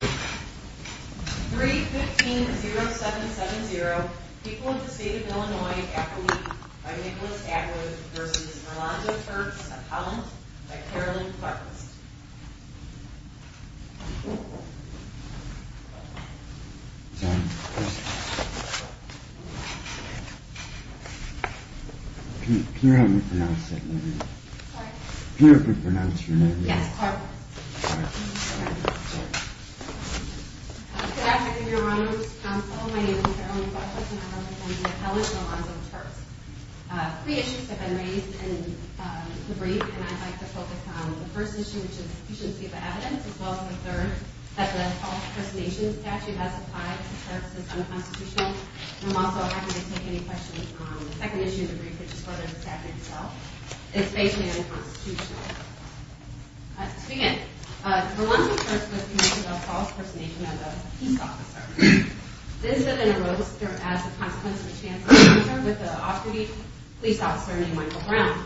3.15.0770 People of the State of Illinois Accolade by Nicholas Atwood v. Orlando Turks of Holland by Carolyn Clarke Good afternoon, Your Honor, Mr. Counsel. My name is Carolyn Clarke and I represent the Accolade of the Orlando Turks. Three issues have been raised in the brief and I'd like to focus on the first issue, which is sufficiency of evidence, as well as the third, that the false impersonation statute has applied to Turks as unconstitutional. I'm also happy to take any questions on the second issue of the brief, which is whether the statute itself is basically unconstitutional. To begin, the Orlando Turks was convicted of false impersonation as a police officer. This has been arose as a consequence of a chance encounter with an off-duty police officer named Michael Brown.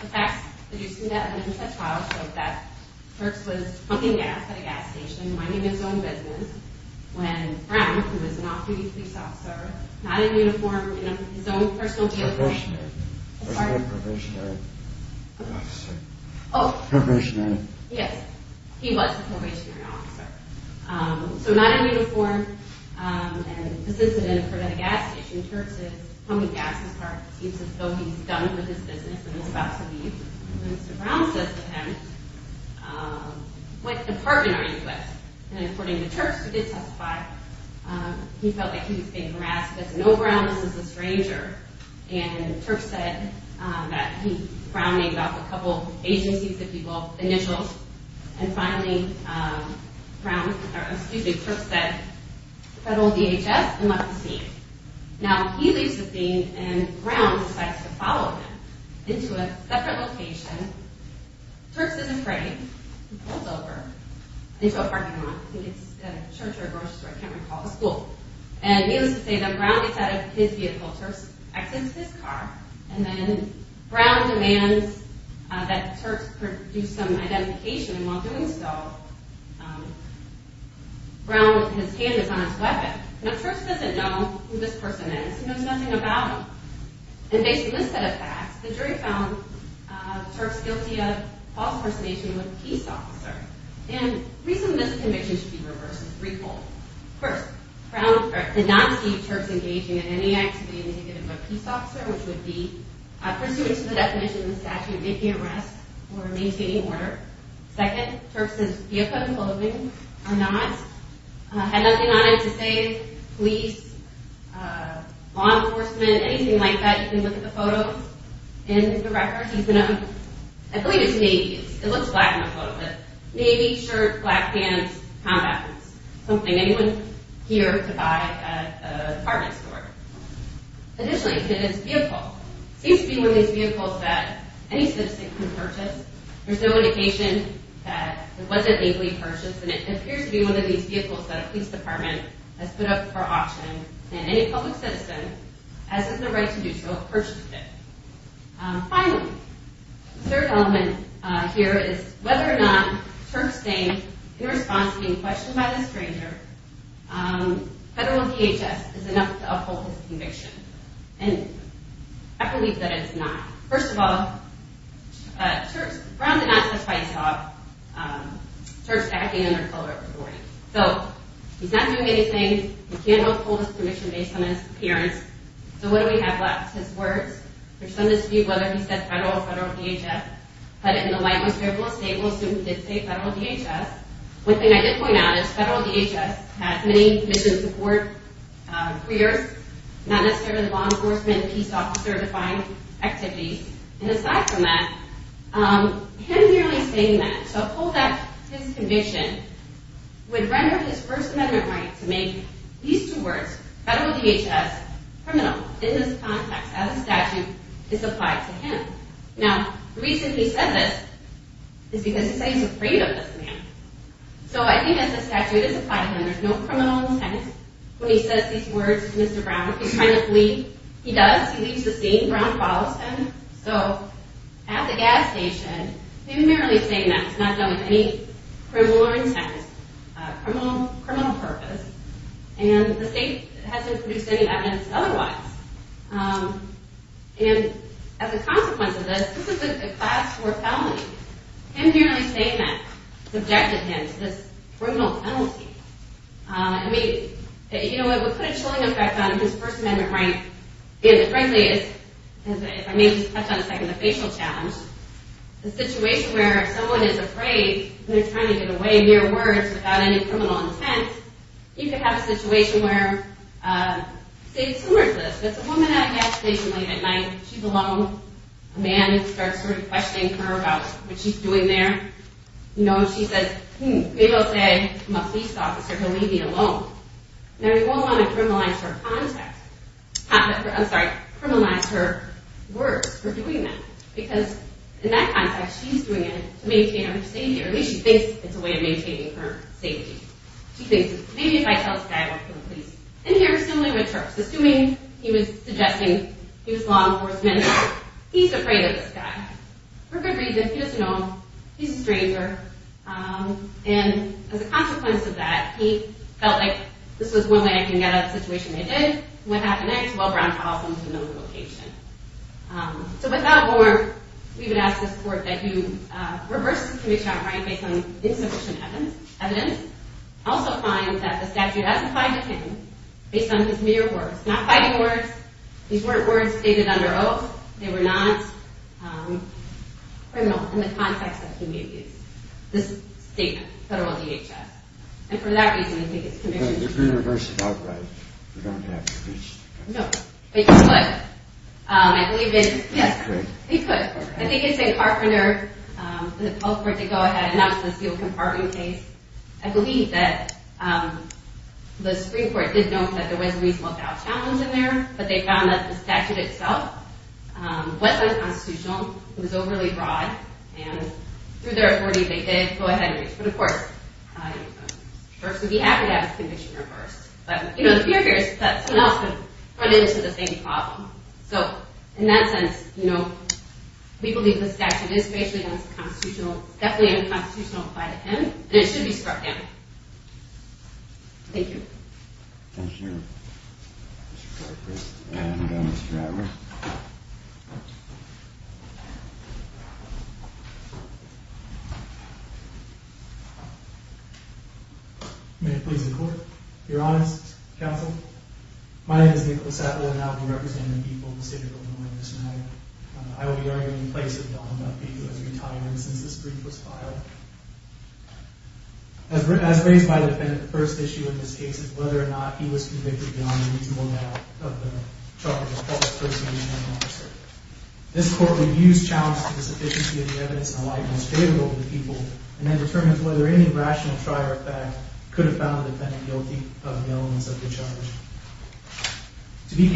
The facts producing that initial trial showed that Turks was pumping gas at a gas station, minding his own business, when Brown, who was an off-duty police officer, not in uniform, in his own personal jail, He was a probationary officer. Oh, yes, he was a probationary officer. So not in uniform and assisted in a gas station, Turks is pumping gas as far as it seems as though he's done with his business and is about to leave. When Mr. Brown says to him, what department are you with? And according to Turks, who did testify, he felt like he was being harassed. He says, no, Brown, this is a stranger. And Turks said that Brown named off a couple agencies, if you will, initials. And finally, Brown, or excuse me, Turks said, federal DHS and left the scene. Now, he leaves the scene and Brown decides to follow him into a separate location. Turks isn't afraid. He pulls over into a parking lot. I think it's a church or a grocery store, I can't recall, a school. And he was to say that Brown gets out of his vehicle, Turks exits his car, and then Brown demands that Turks produce some identification, and while doing so, Brown with his hand is on his weapon. Now, Turks doesn't know who this person is. He knows nothing about him. And based on this set of facts, the jury found Turks guilty of false impersonation of a peace officer. And the reason this conviction should be reversed is threefold. First, Brown did not see Turks engaging in any activity indicative of a peace officer, which would be pursuant to the definition in the statute, making arrests or maintaining order. Second, Turks' vehicle and clothing are not. It had nothing on it to say police, law enforcement, anything like that. You can look at the photo in the record. I believe it's navy. It looks black in the photo. Navy, shirt, black pants, combat boots. Something anyone here could buy at a department store. Additionally, his vehicle seems to be one of these vehicles that any citizen can purchase. There's no indication that it was a navy purchase, and it appears to be one of these vehicles that a police department has put up for auction, and any public citizen has the right to do so if purchased it. Finally, the third element here is whether or not Turks' name, in response to being questioned by the stranger, federal DHS is enough to uphold his conviction. And I believe that it's not. First of all, Brown did not testify to Turks' backhand or color of his body. So, he's not doing anything. We can't uphold his conviction based on his appearance. So what do we have left? His words. There's some dispute whether he said federal or federal DHS. But in the lightness, we're able to say we'll assume he did say federal DHS. One thing I did point out is federal DHS has many mission support careers, not necessarily law enforcement, peace officer-defined activities. And aside from that, him merely saying that, so upholding his conviction, would render his First Amendment right to make these two words, federal DHS, criminal, in this context, as a statute, is applied to him. Now, the reason he said this is because he said he's afraid of this man. So I think as a statute, it's applied to him. There's no criminal intent when he says these words to Mr. Brown. If he's trying to flee, he does. He leaves the scene. Brown follows him. So, at the gas station, he was merely saying that. It's not done with any criminal intent, criminal purpose. And the state hasn't produced any evidence otherwise. And as a consequence of this, this is a class 4 felony. Him merely saying that subjected him to this criminal penalty. I mean, you know, it would put a chilling effect on his First Amendment right, because it frankly is, if I may just touch on a second, the facial challenge. The situation where if someone is afraid and they're trying to get away mere words without any criminal intent, you could have a situation where, say, a woman at a gas station late at night, she's alone, a man starts sort of questioning her about what she's doing there. You know, she says, hmm, maybe I'll say I'm a police officer, he'll leave me alone. Now, he goes on to criminalize her context. I'm sorry, criminalize her words for doing that. Because in that context, she's doing it to maintain her safety. Or at least she thinks it's a way of maintaining her safety. She thinks, maybe if I tell this guy I work for the police. Assuming he was suggesting he was law enforcement, he's afraid of this guy. For good reason, he doesn't know him. He's a stranger. And as a consequence of that, he felt like this was one way I can get out of the situation I did. What happened next? Well, Brown calls him to another location. So without more, we would ask this court that he reverse his conviction on crime based on insufficient evidence. Also finds that the statute hasn't fined him based on his mere words. Not fighting words. These weren't words stated under oath. They were not criminal in the context that he may have used. This statement, federal DHS. And for that reason, I think it's commissioned. But if we reverse it outright, we don't have to reach the court. No, but you could. I believe it's, yes. He could. I think it's a carpenter, the culprit to go ahead and announce the sealed compartment case. I believe that the Supreme Court did note that there was a reasonable doubt challenge in there. But they found that the statute itself wasn't constitutional. It was overly broad. And through their authority, they did go ahead and reach for the court. Of course, it would be accurate to have his conviction reversed. But, you know, the fear here is that someone else could run into the same problem. So in that sense, you know, we believe the statute is spatially unconstitutional. Definitely unconstitutional applied to him. And it should be struck down. Thank you. Thank you, Mr. Carpenter. And Mr. Adler. May it please the Court. Your Honors, Counsel. My name is Nicholas Adler, and I will be representing the people of the State of Illinois this night. I will be arguing in place of Don Murphy, who has retired since this brief was filed. As raised by the defendant, the first issue in this case is whether or not he was convicted beyond the reasonable doubt of the charge of false personation of an officer. This Court would use challenge to the sufficiency of the evidence in the light most favorable to the people, and then determine whether any rational trier of fact could have found the defendant guilty of the elements of the charge. To be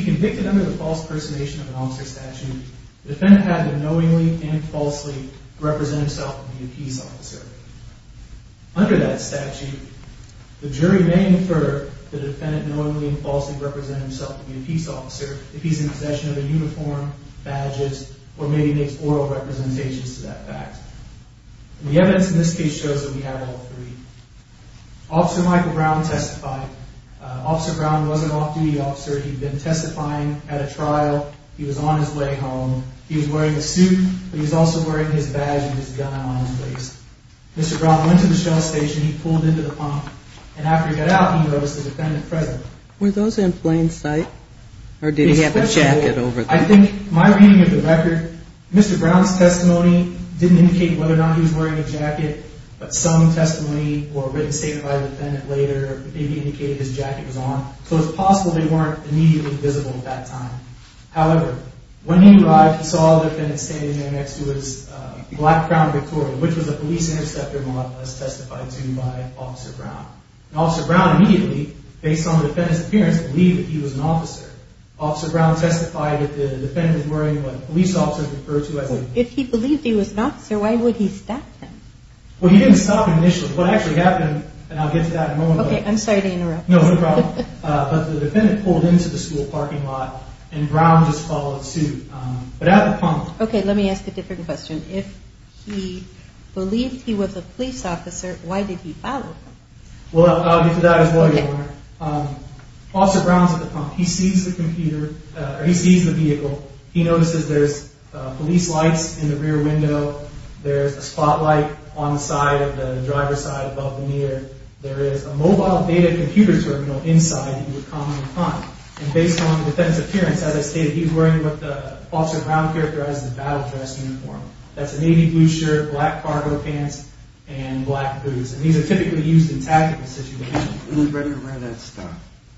convicted under the false personation of an officer statute, the defendant had to knowingly and falsely represent himself to be a peace officer. Under that statute, the jury may infer the defendant knowingly and falsely represented himself to be a peace officer if he's in possession of a uniform, badges, or maybe makes oral representations to that fact. The evidence in this case shows that we have all three. Officer Michael Brown testified. Officer Brown was an off-duty officer. He'd been testifying at a trial. He was on his way home. He was wearing a suit, but he was also wearing his badge and his gun on his face. Mr. Brown went to the Shell Station. He pulled into the pump, and after he got out, he noticed the defendant present. Were those in plain sight, or did he have a jacket over them? I think my reading of the record, Mr. Brown's testimony didn't indicate whether or not he was wearing a jacket, but some testimony or written statement by the defendant later maybe indicated his jacket was on, so it's possible they weren't immediately visible at that time. However, when he arrived, he saw the defendant standing there next to his black Crown Victoria, which was a police interceptor model, as testified to by Officer Brown. And Officer Brown immediately, based on the defendant's appearance, believed that he was an officer. Officer Brown testified that the defendant was wearing what police officers refer to as a— Well, he didn't stop initially. What actually happened, and I'll get to that in a moment— Okay, I'm sorry to interrupt. No, no problem. But the defendant pulled into the school parking lot, and Brown just followed suit. But at the pump— Okay, let me ask a different question. If he believed he was a police officer, why did he follow him? Well, I'll get to that as well, Your Honor. Okay. Officer Brown's at the pump. He sees the computer, or he sees the vehicle. He notices there's police lights in the rear window. There's a spotlight on the side of the driver's side above the mirror. There is a mobile data computer terminal inside that he would commonly find. And based on the defendant's appearance, as I stated, he was wearing what Officer Brown characterized as a battle-dressed uniform. That's a navy blue shirt, black cargo pants, and black boots. And these are typically used in tactical situations. He was ready to wear that stuff.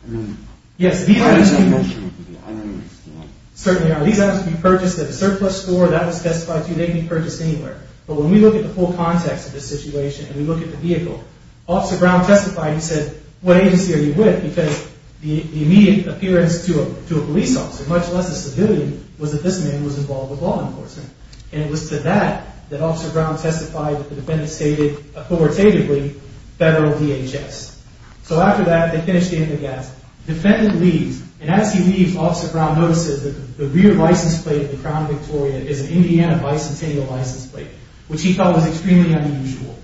I mean— Yes, these items— I don't understand. Certainly are. These items can be purchased at a surplus store. That was testified to. They can be purchased anywhere. But when we look at the full context of this situation, and we look at the vehicle, Officer Brown testified, he said, what agency are you with? Because the immediate appearance to a police officer, much less a civilian, was that this man was involved with law enforcement. And it was to that that Officer Brown testified that the defendant stated, authoritatively, federal DHS. So after that, they finished getting the gas. The defendant leaves. And as he leaves, Officer Brown notices that the rear license plate of the Crown Victoria is an Indiana Bicentennial license plate, which he thought was extremely unusual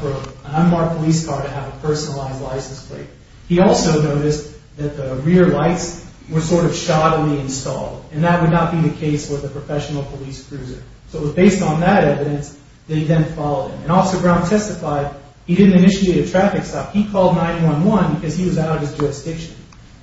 for an unmarked police car to have a personalized license plate. He also noticed that the rear lights were sort of shoddily installed. And that would not be the case with a professional police cruiser. So it was based on that evidence that he then followed him. And Officer Brown testified he didn't initiate a traffic stop. He called 911 because he was out of his jurisdiction.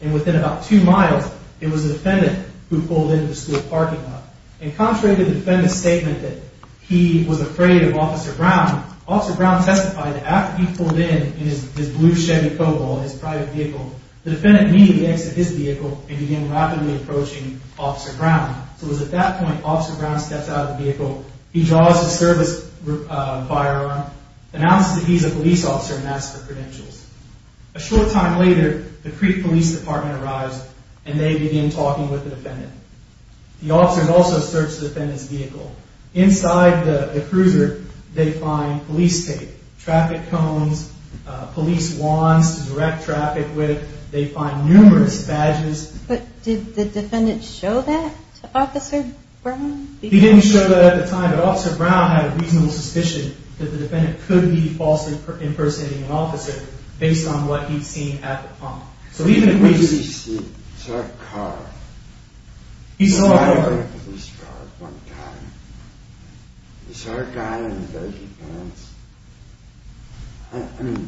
And within about two miles, it was the defendant who pulled into the school parking lot. And contrary to the defendant's statement that he was afraid of Officer Brown, Officer Brown testified that after he pulled in in his blue Chevy Cobol, his private vehicle, the defendant immediately exited his vehicle and began rapidly approaching Officer Brown. So it was at that point Officer Brown steps out of the vehicle. He draws his service firearm, announces that he's a police officer, and asks for credentials. A short time later, the Creek Police Department arrives. And they begin talking with the defendant. The officers also search the defendant's vehicle. Inside the cruiser, they find police tape, traffic cones, police wands to direct traffic with. They find numerous badges. But did the defendant show that to Officer Brown? He didn't show that at the time, but Officer Brown had a reasonable suspicion that the defendant could be falsely impersonating an officer based on what he'd seen at the pump. What did he see? He saw a car. He saw a car. He saw a police car at one time. He saw a guy in dirty pants. I mean,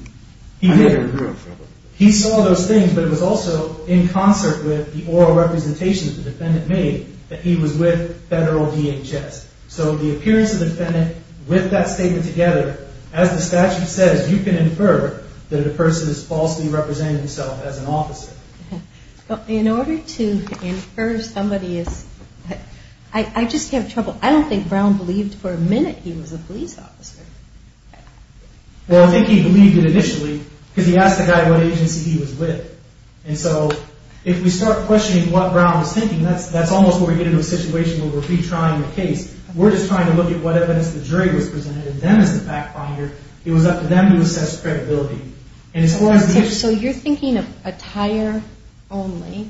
I never heard of him. He saw those things, but it was also in concert with the oral representation that the defendant made that he was with federal DHS. So the appearance of the defendant with that statement together, as the statute says, you can infer that a person has falsely represented himself as an officer. In order to infer somebody is... I just have trouble. I don't think Brown believed for a minute he was a police officer. Well, I think he believed it initially because he asked the guy what agency he was with. And so if we start questioning what Brown was thinking, that's almost where we get into a situation where we're retrying the case. We're just trying to look at what evidence the jury was presented, and then as the fact finder, it was up to them to assess credibility. So you're thinking attire only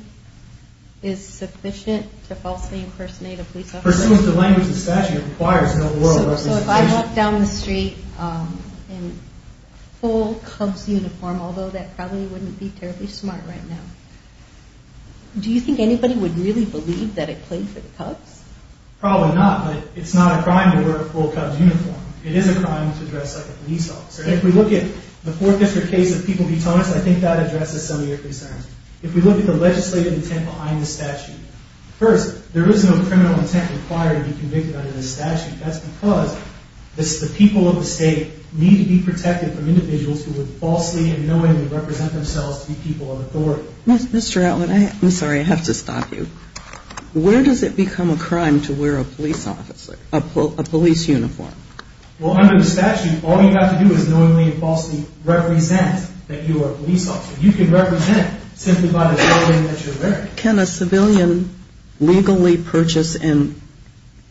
is sufficient to falsely impersonate a police officer? Pursuant to the language of the statute, it requires no oral representation. So if I walk down the street in full Cubs uniform, although that probably wouldn't be terribly smart right now, do you think anybody would really believe that I played for the Cubs? Probably not, but it's not a crime to wear a full Cubs uniform. It is a crime to dress like a police officer. And if we look at the Fort Bishop case of People v. Thomas, I think that addresses some of your concerns. If we look at the legislative intent behind the statute, first, there is no criminal intent required to be convicted under this statute. That's because the people of the state need to be protected from individuals who would falsely and knowingly represent themselves to be people of authority. Mr. Atwood, I'm sorry, I have to stop you. Where does it become a crime to wear a police officer, a police uniform? Well, under the statute, all you have to do is knowingly and falsely represent that you are a police officer. You can represent simply by the clothing that you're wearing. Can a civilian legally purchase and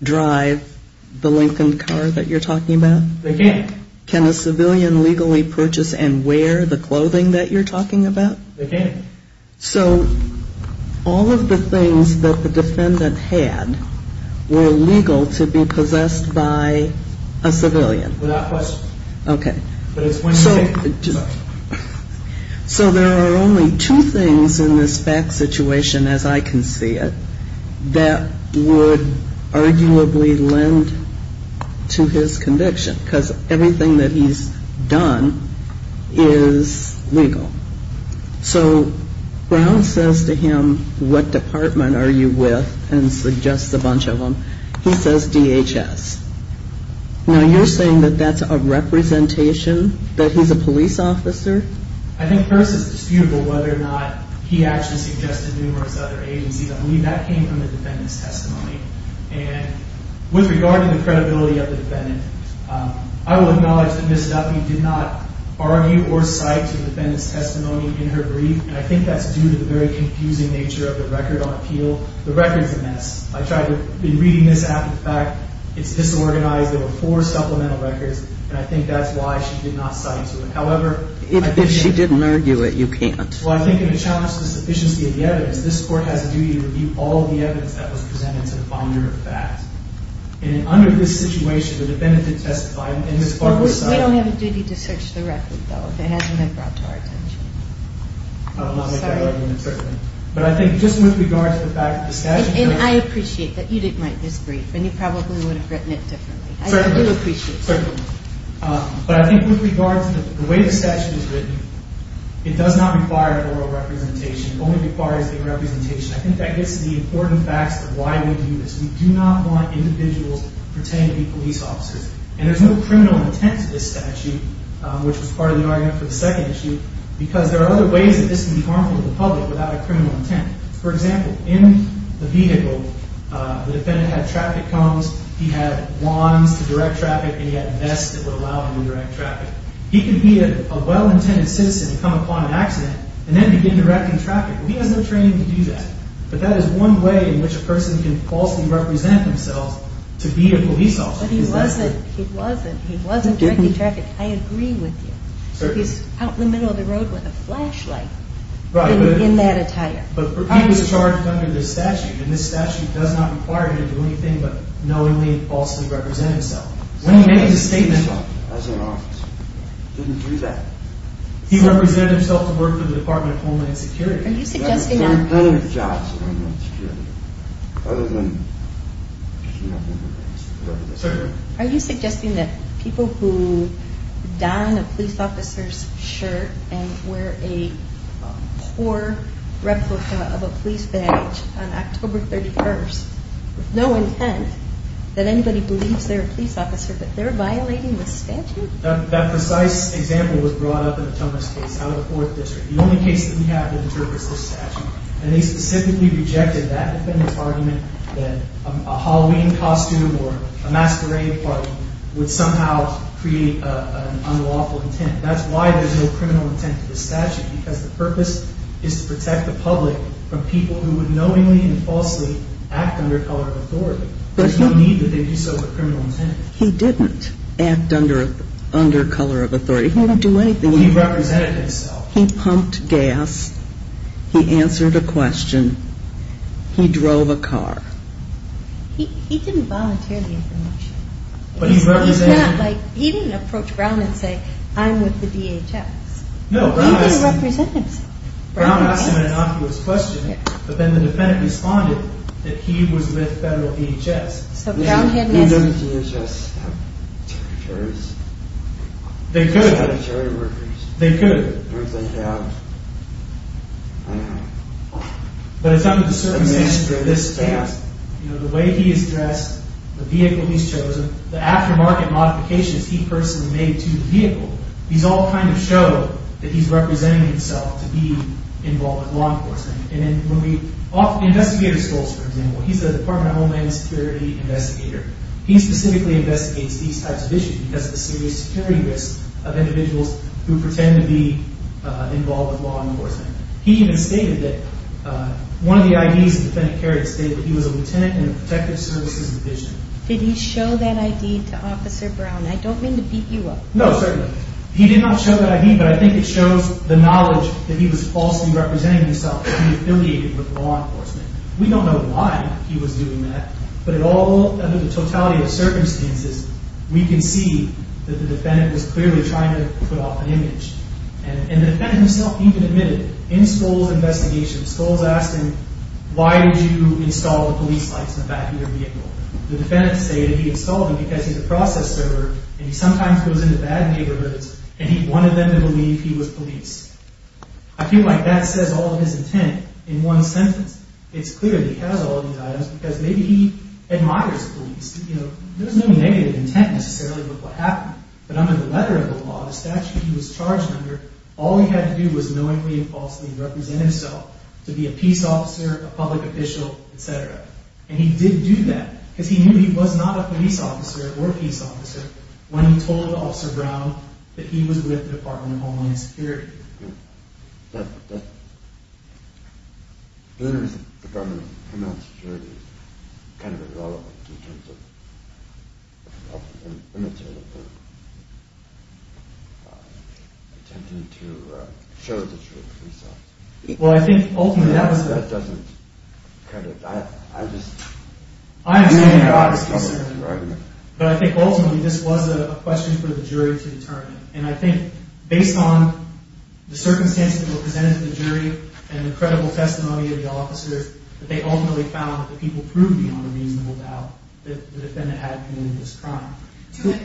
drive the Lincoln car that you're talking about? They can. Can a civilian legally purchase and wear the clothing that you're talking about? They can. So, all of the things that the defendant had were legal to be possessed by a civilian? Without question. Okay. So, there are only two things in this fact situation, as I can see it, that would arguably lend to his conviction because everything that he's done is legal. So, Brown says to him, what department are you with? And suggests a bunch of them. He says DHS. Now, you're saying that that's a representation? That he's a police officer? I think first it's disputable whether or not he actually suggested numerous other agencies. I believe that came from the defendant's testimony. And with regard to the credibility of the defendant, I will acknowledge that Ms. Duffy did not argue or cite to the defendant's testimony in her brief. And I think that's due to the very confusing nature of the record on appeal. The record's a mess. I tried to, in reading this after the fact, it's disorganized. There were four supplemental records. And I think that's why she did not cite to it. However... If she didn't argue it, you can't. Well, I think in a challenge to the sufficiency of the evidence, this Court has a duty to review all the evidence that was presented to the founder of the fact. And under this situation, the defendant did testify and Ms. Barber said... Well, we don't have a duty to search the record, though, if it hasn't been brought to our attention. I would not make that argument, certainly. Sorry. But I think just with regard to the fact that the statute... And I appreciate that you didn't write this brief and you probably would have written it differently. I do appreciate it. Certainly. But I think with regard to the way the statute is written, it does not require oral representation. It only requires the representation. I think that gets to the important facts of why we do this. We do not want individuals pretending to be police officers. And there's no criminal intent to this statute, which was part of the argument for the second issue, because there are other ways that this would be harmful to the public without a criminal intent. For example, in the vehicle, the defendant had traffic cones, he had wands to direct traffic, and he had vests that would allow him to direct traffic. He could be a well-intended citizen and come upon an accident and then begin directing traffic. He has no training to do that. But that is one way in which a person can falsely represent themselves to be a police officer. But he wasn't. He wasn't. He wasn't directing traffic. I agree with you. Certainly. He's out in the middle of the road with a flashlight in that attire. But he was charged under this statute, and this statute does not require him to do anything but knowingly and falsely represent himself. When he made this statement, as an officer, he didn't do that. He represented himself to work for the Department of Homeland Security. Are you suggesting who die in a police officer's shirt and wear a poor replica of a police badge on October 31st report that they were a criminal offender with no intent that anybody believes they're a police officer but they're violating the statute? That precise example was brought up in a Thomas case out of the Fourth District. The only case that we have that interprets this statute. And they specifically rejected that defendant's argument that a Halloween costume or a masquerade party would somehow create an unlawful intent. That's why there's no criminal intent to this statute because the purpose is to protect the public from people who would knowingly and falsely act under color of authority. There's no need that they do so with criminal intent. He didn't act under color of authority. He didn't do anything. He represented himself. He pumped gas. He answered a question. He drove a car. He didn't volunteer the information. He didn't approach Brown and say, I'm with the DHS. He didn't represent himself. Brown asked him an innocuous question, but then the defendant responded that he was with federal DHS. So Brown had no... Who does DHS have? Territories. They could. Territory workers. They could. Everything they have. I don't know. But it's under the circumstances for this task. The way he is dressed, the vehicle he's chosen, the aftermarket modifications he personally made to the vehicle, these all kind of show that he's representing himself to be involved in law enforcement. And when we... Investigator Stoltz, for example, he's a Department of Homeland Security investigator. He specifically investigates these types of issues because of the serious security risk of individuals who pretend to be involved in law enforcement. He even stated that one of the IDs the defendant carried was a Lieutenant in the Protective Services Division. Did he show that ID to Officer Brown? I don't mean to beat you up. No, certainly not. He did not show that ID, but I think it shows the knowledge that he was falsely representing himself to be affiliated with law enforcement. We don't know why he was doing that, but under the totality of circumstances, we can see that the to put off an image. And the defendant himself in Stoltz's investigation, Stoltz asked him, why did you install the police lights in the back of your vehicle? The defendant said that he installed them because he's a process server and he sometimes goes into bad neighborhoods and he wanted them to believe he was police. I feel like that says all of his intent in one sentence. It's clear that he has all of these items because maybe he admires police. There's no negative intent necessarily with what happened, but under the letter of the law, the statute he was charged under, all he had to do was knowingly and falsely represent himself to be a peace officer, a public official, etc. And he did do that because he knew he was not a police officer or a peace officer. And ultimately this was a question for the jury to determine. And I think based on the circumstances that were presented to the jury and the credible testimony of the officers, that they ultimately found that the people proved beyond a reasonable doubt that the defendant had committed this crime.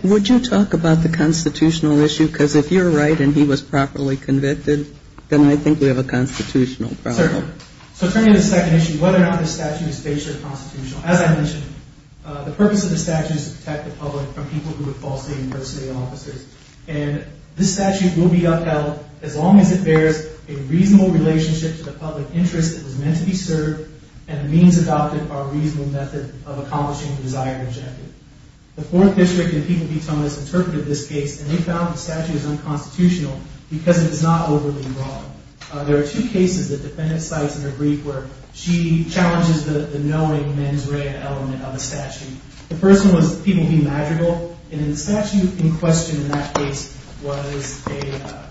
Would you talk about the constitutional issue? Because if you're right and he was properly convicted, then I think we have a constitutional problem. So turning to the second issue, whether or not the statute is based on the constitutional issue, as I mentioned, the purpose of the statute is to challenge the knowing mens rea element of the statute. The first one was the people being magical, and the statute in question in that case was a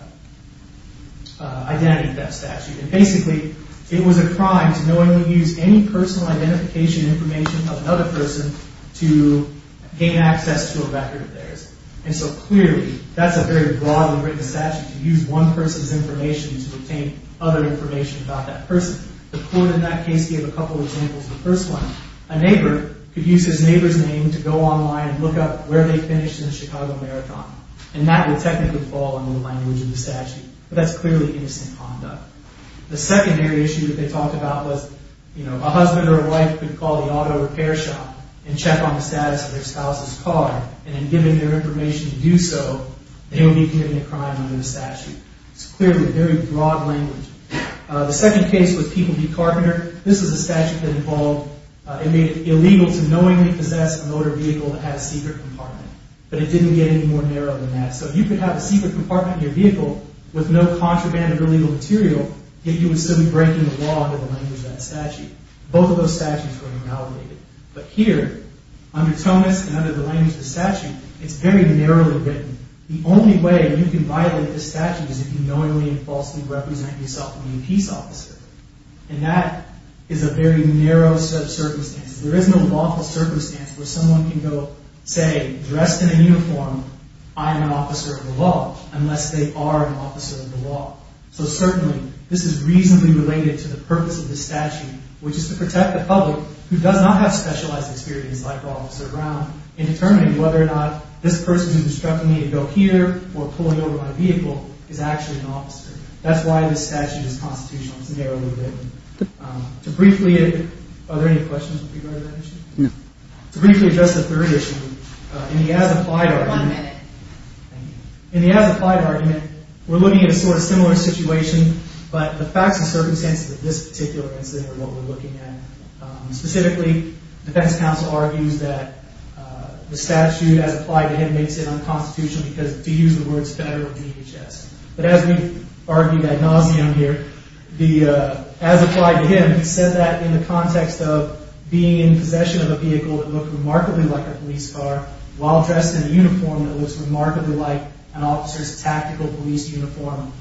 identity theft statute. And basically, it was a crime to knowingly use any personal identification information of another person to gain access to a record of theirs. And so clearly, that's a very broadly written statute to use one person's information to obtain other information about that person. The court in that case gave a couple examples of the first one. A neighbor could use his neighbor's name to go online and look up where they finished in the Chicago Marathon, and that would technically fall under the language of the statute. But that's clearly innocent conduct. The secondary issue that they talked about was, you know, a husband or a wife could call the auto repair shop and check on the status of their spouse's car, and given their information to do so, they would be committing a crime under the statute. It's clearly very broad language. The second case was People v. Carpenter. This is a statute that involved, it made it illegal to knowingly possess a motor vehicle that had a secret compartment, but it didn't get any more narrow than that. So you could have a secret compartment in your vehicle with no contraband or illegal material, yet you would still be breaking the law under the language of that statute. Both of those statutes were invalidated. But here, under Thomas and under the language of the statute, it's very narrowly written. The only way you can violate the statute is if you knowingly and falsely represent yourself as a peace officer. And that is a very narrow set of circumstances. There isn't a lawful circumstance where someone can go say, dressed in a uniform, I'm an officer of the law, unless they are an officer of the law. So certainly, this is reasonably related to the purpose of the statute, which is to protect the public who does not have a right to And issue is that the statute is constitutional. It's narrowly written. To briefly address the third issue, in the as-applied argument, we're looking at a similar situation, but the facts and circumstances of this particular incident are what we're looking at. Specifically, defense counsel argues that the statute as applied to him makes it unconstitutional because, to use the words, federal DHS. But as we've argued ad nauseum here, as applied to him, he said that in the context of being in possession of a vehicle that looked remarkably like a police car while dressed in a uniform that looked remarkably like an officer's tactical police uniform,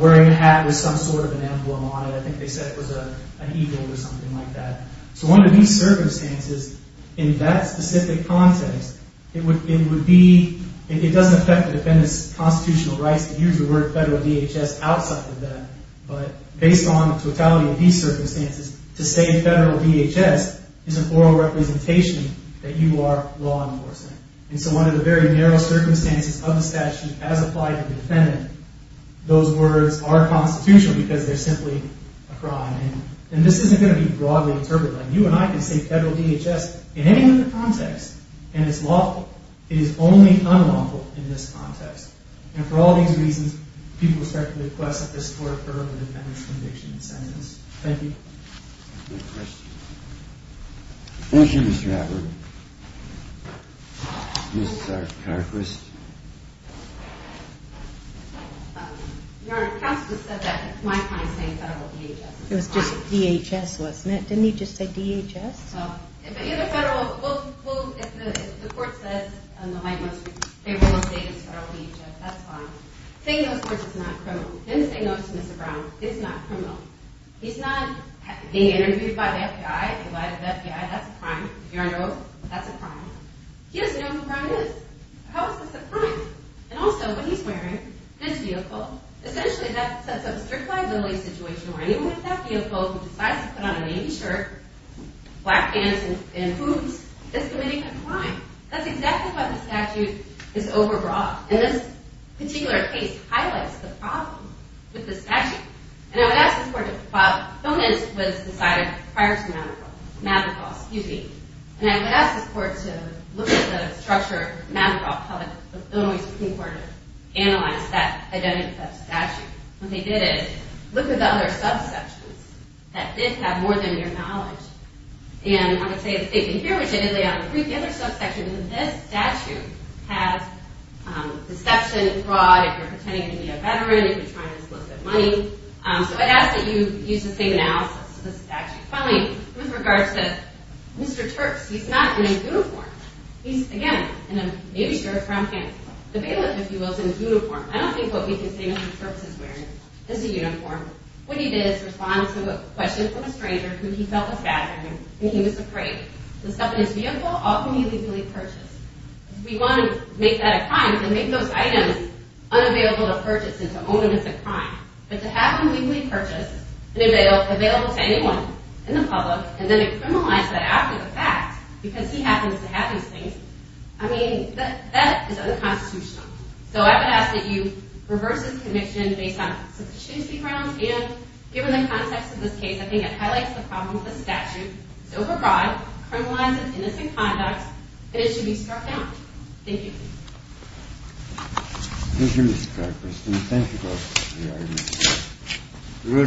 wearing a hat with some sort of emblem on it, I think they said it was an eagle or something like that. So, under these circumstances, in that specific context, it would be, it doesn't affect the defendant's constitutional rights to use the word federal DHS outside of that, but based on the totality of these circumstances, to say federal DHS is an oral representation that you are law enforcement. And so one of the very narrow circumstances of the statute, as applied to the defendant, those words are constitutional because they're simply a crime. And this isn't going to be broadly interpreted. You and I can say federal DHS in any other context and it's lawful. It is only unlawful in this context. And for all these reasons, people respectfully request that this court determine the defendant's conviction in sentence. Thank you. Thank you, Mr. Abbott. Ms. Karquis. Your Honor, counsel just said that it's my claim saying federal DHS is fine. It was just DHS wasn't it? Didn't he just say DHS? Well, if the court says they will say it's federal DHS, that's fine. Saying those words is not criminal. Didn't say no to Mr. Brown. It's not criminal. He's not being interviewed by the FBI. That's a crime. Your Honor, that's a crime. He doesn't know what a crime is. How is this a crime? And also, when he's wearing this vehicle, essentially that sets up a strict liability situation where anyone with that vehicle who decides to put on a navy shirt, black pants, and hoodies is committing a crime. That's exactly what the statute is overbroad. And this particular case highlights the problem with the statute. And I would ask this court to look at the structure of the statute. What they did is look at the other subsections that did have more than mere knowledge. And I would say the statement here, which I did lay out in brief, the other subsection is that this statute has deception, fraud, if you're pretending to be a veteran, if you're trying to solicit money. So I'd ask that you use the same analysis of the statute. Finally, with regards to Mr. Terps, he's not in a uniform. He's, again, in a navy shirt, brown And if you want to make that a crime, then make those items unavailable to purchase and to own them as a crime. But to have them legally purchased and available to anyone in the public and then criminalize that after the fact because he happens to have these things, I mean, that is a crime. So I would ask that you reverse this conviction based on the constituency grounds and given the context of this case, I think it highlights the problems of the statute so broad, criminalizes innocent conduct, that it should be struck down. Thank you. Thank you, Mr. Congressman. Thank you both for your time. We're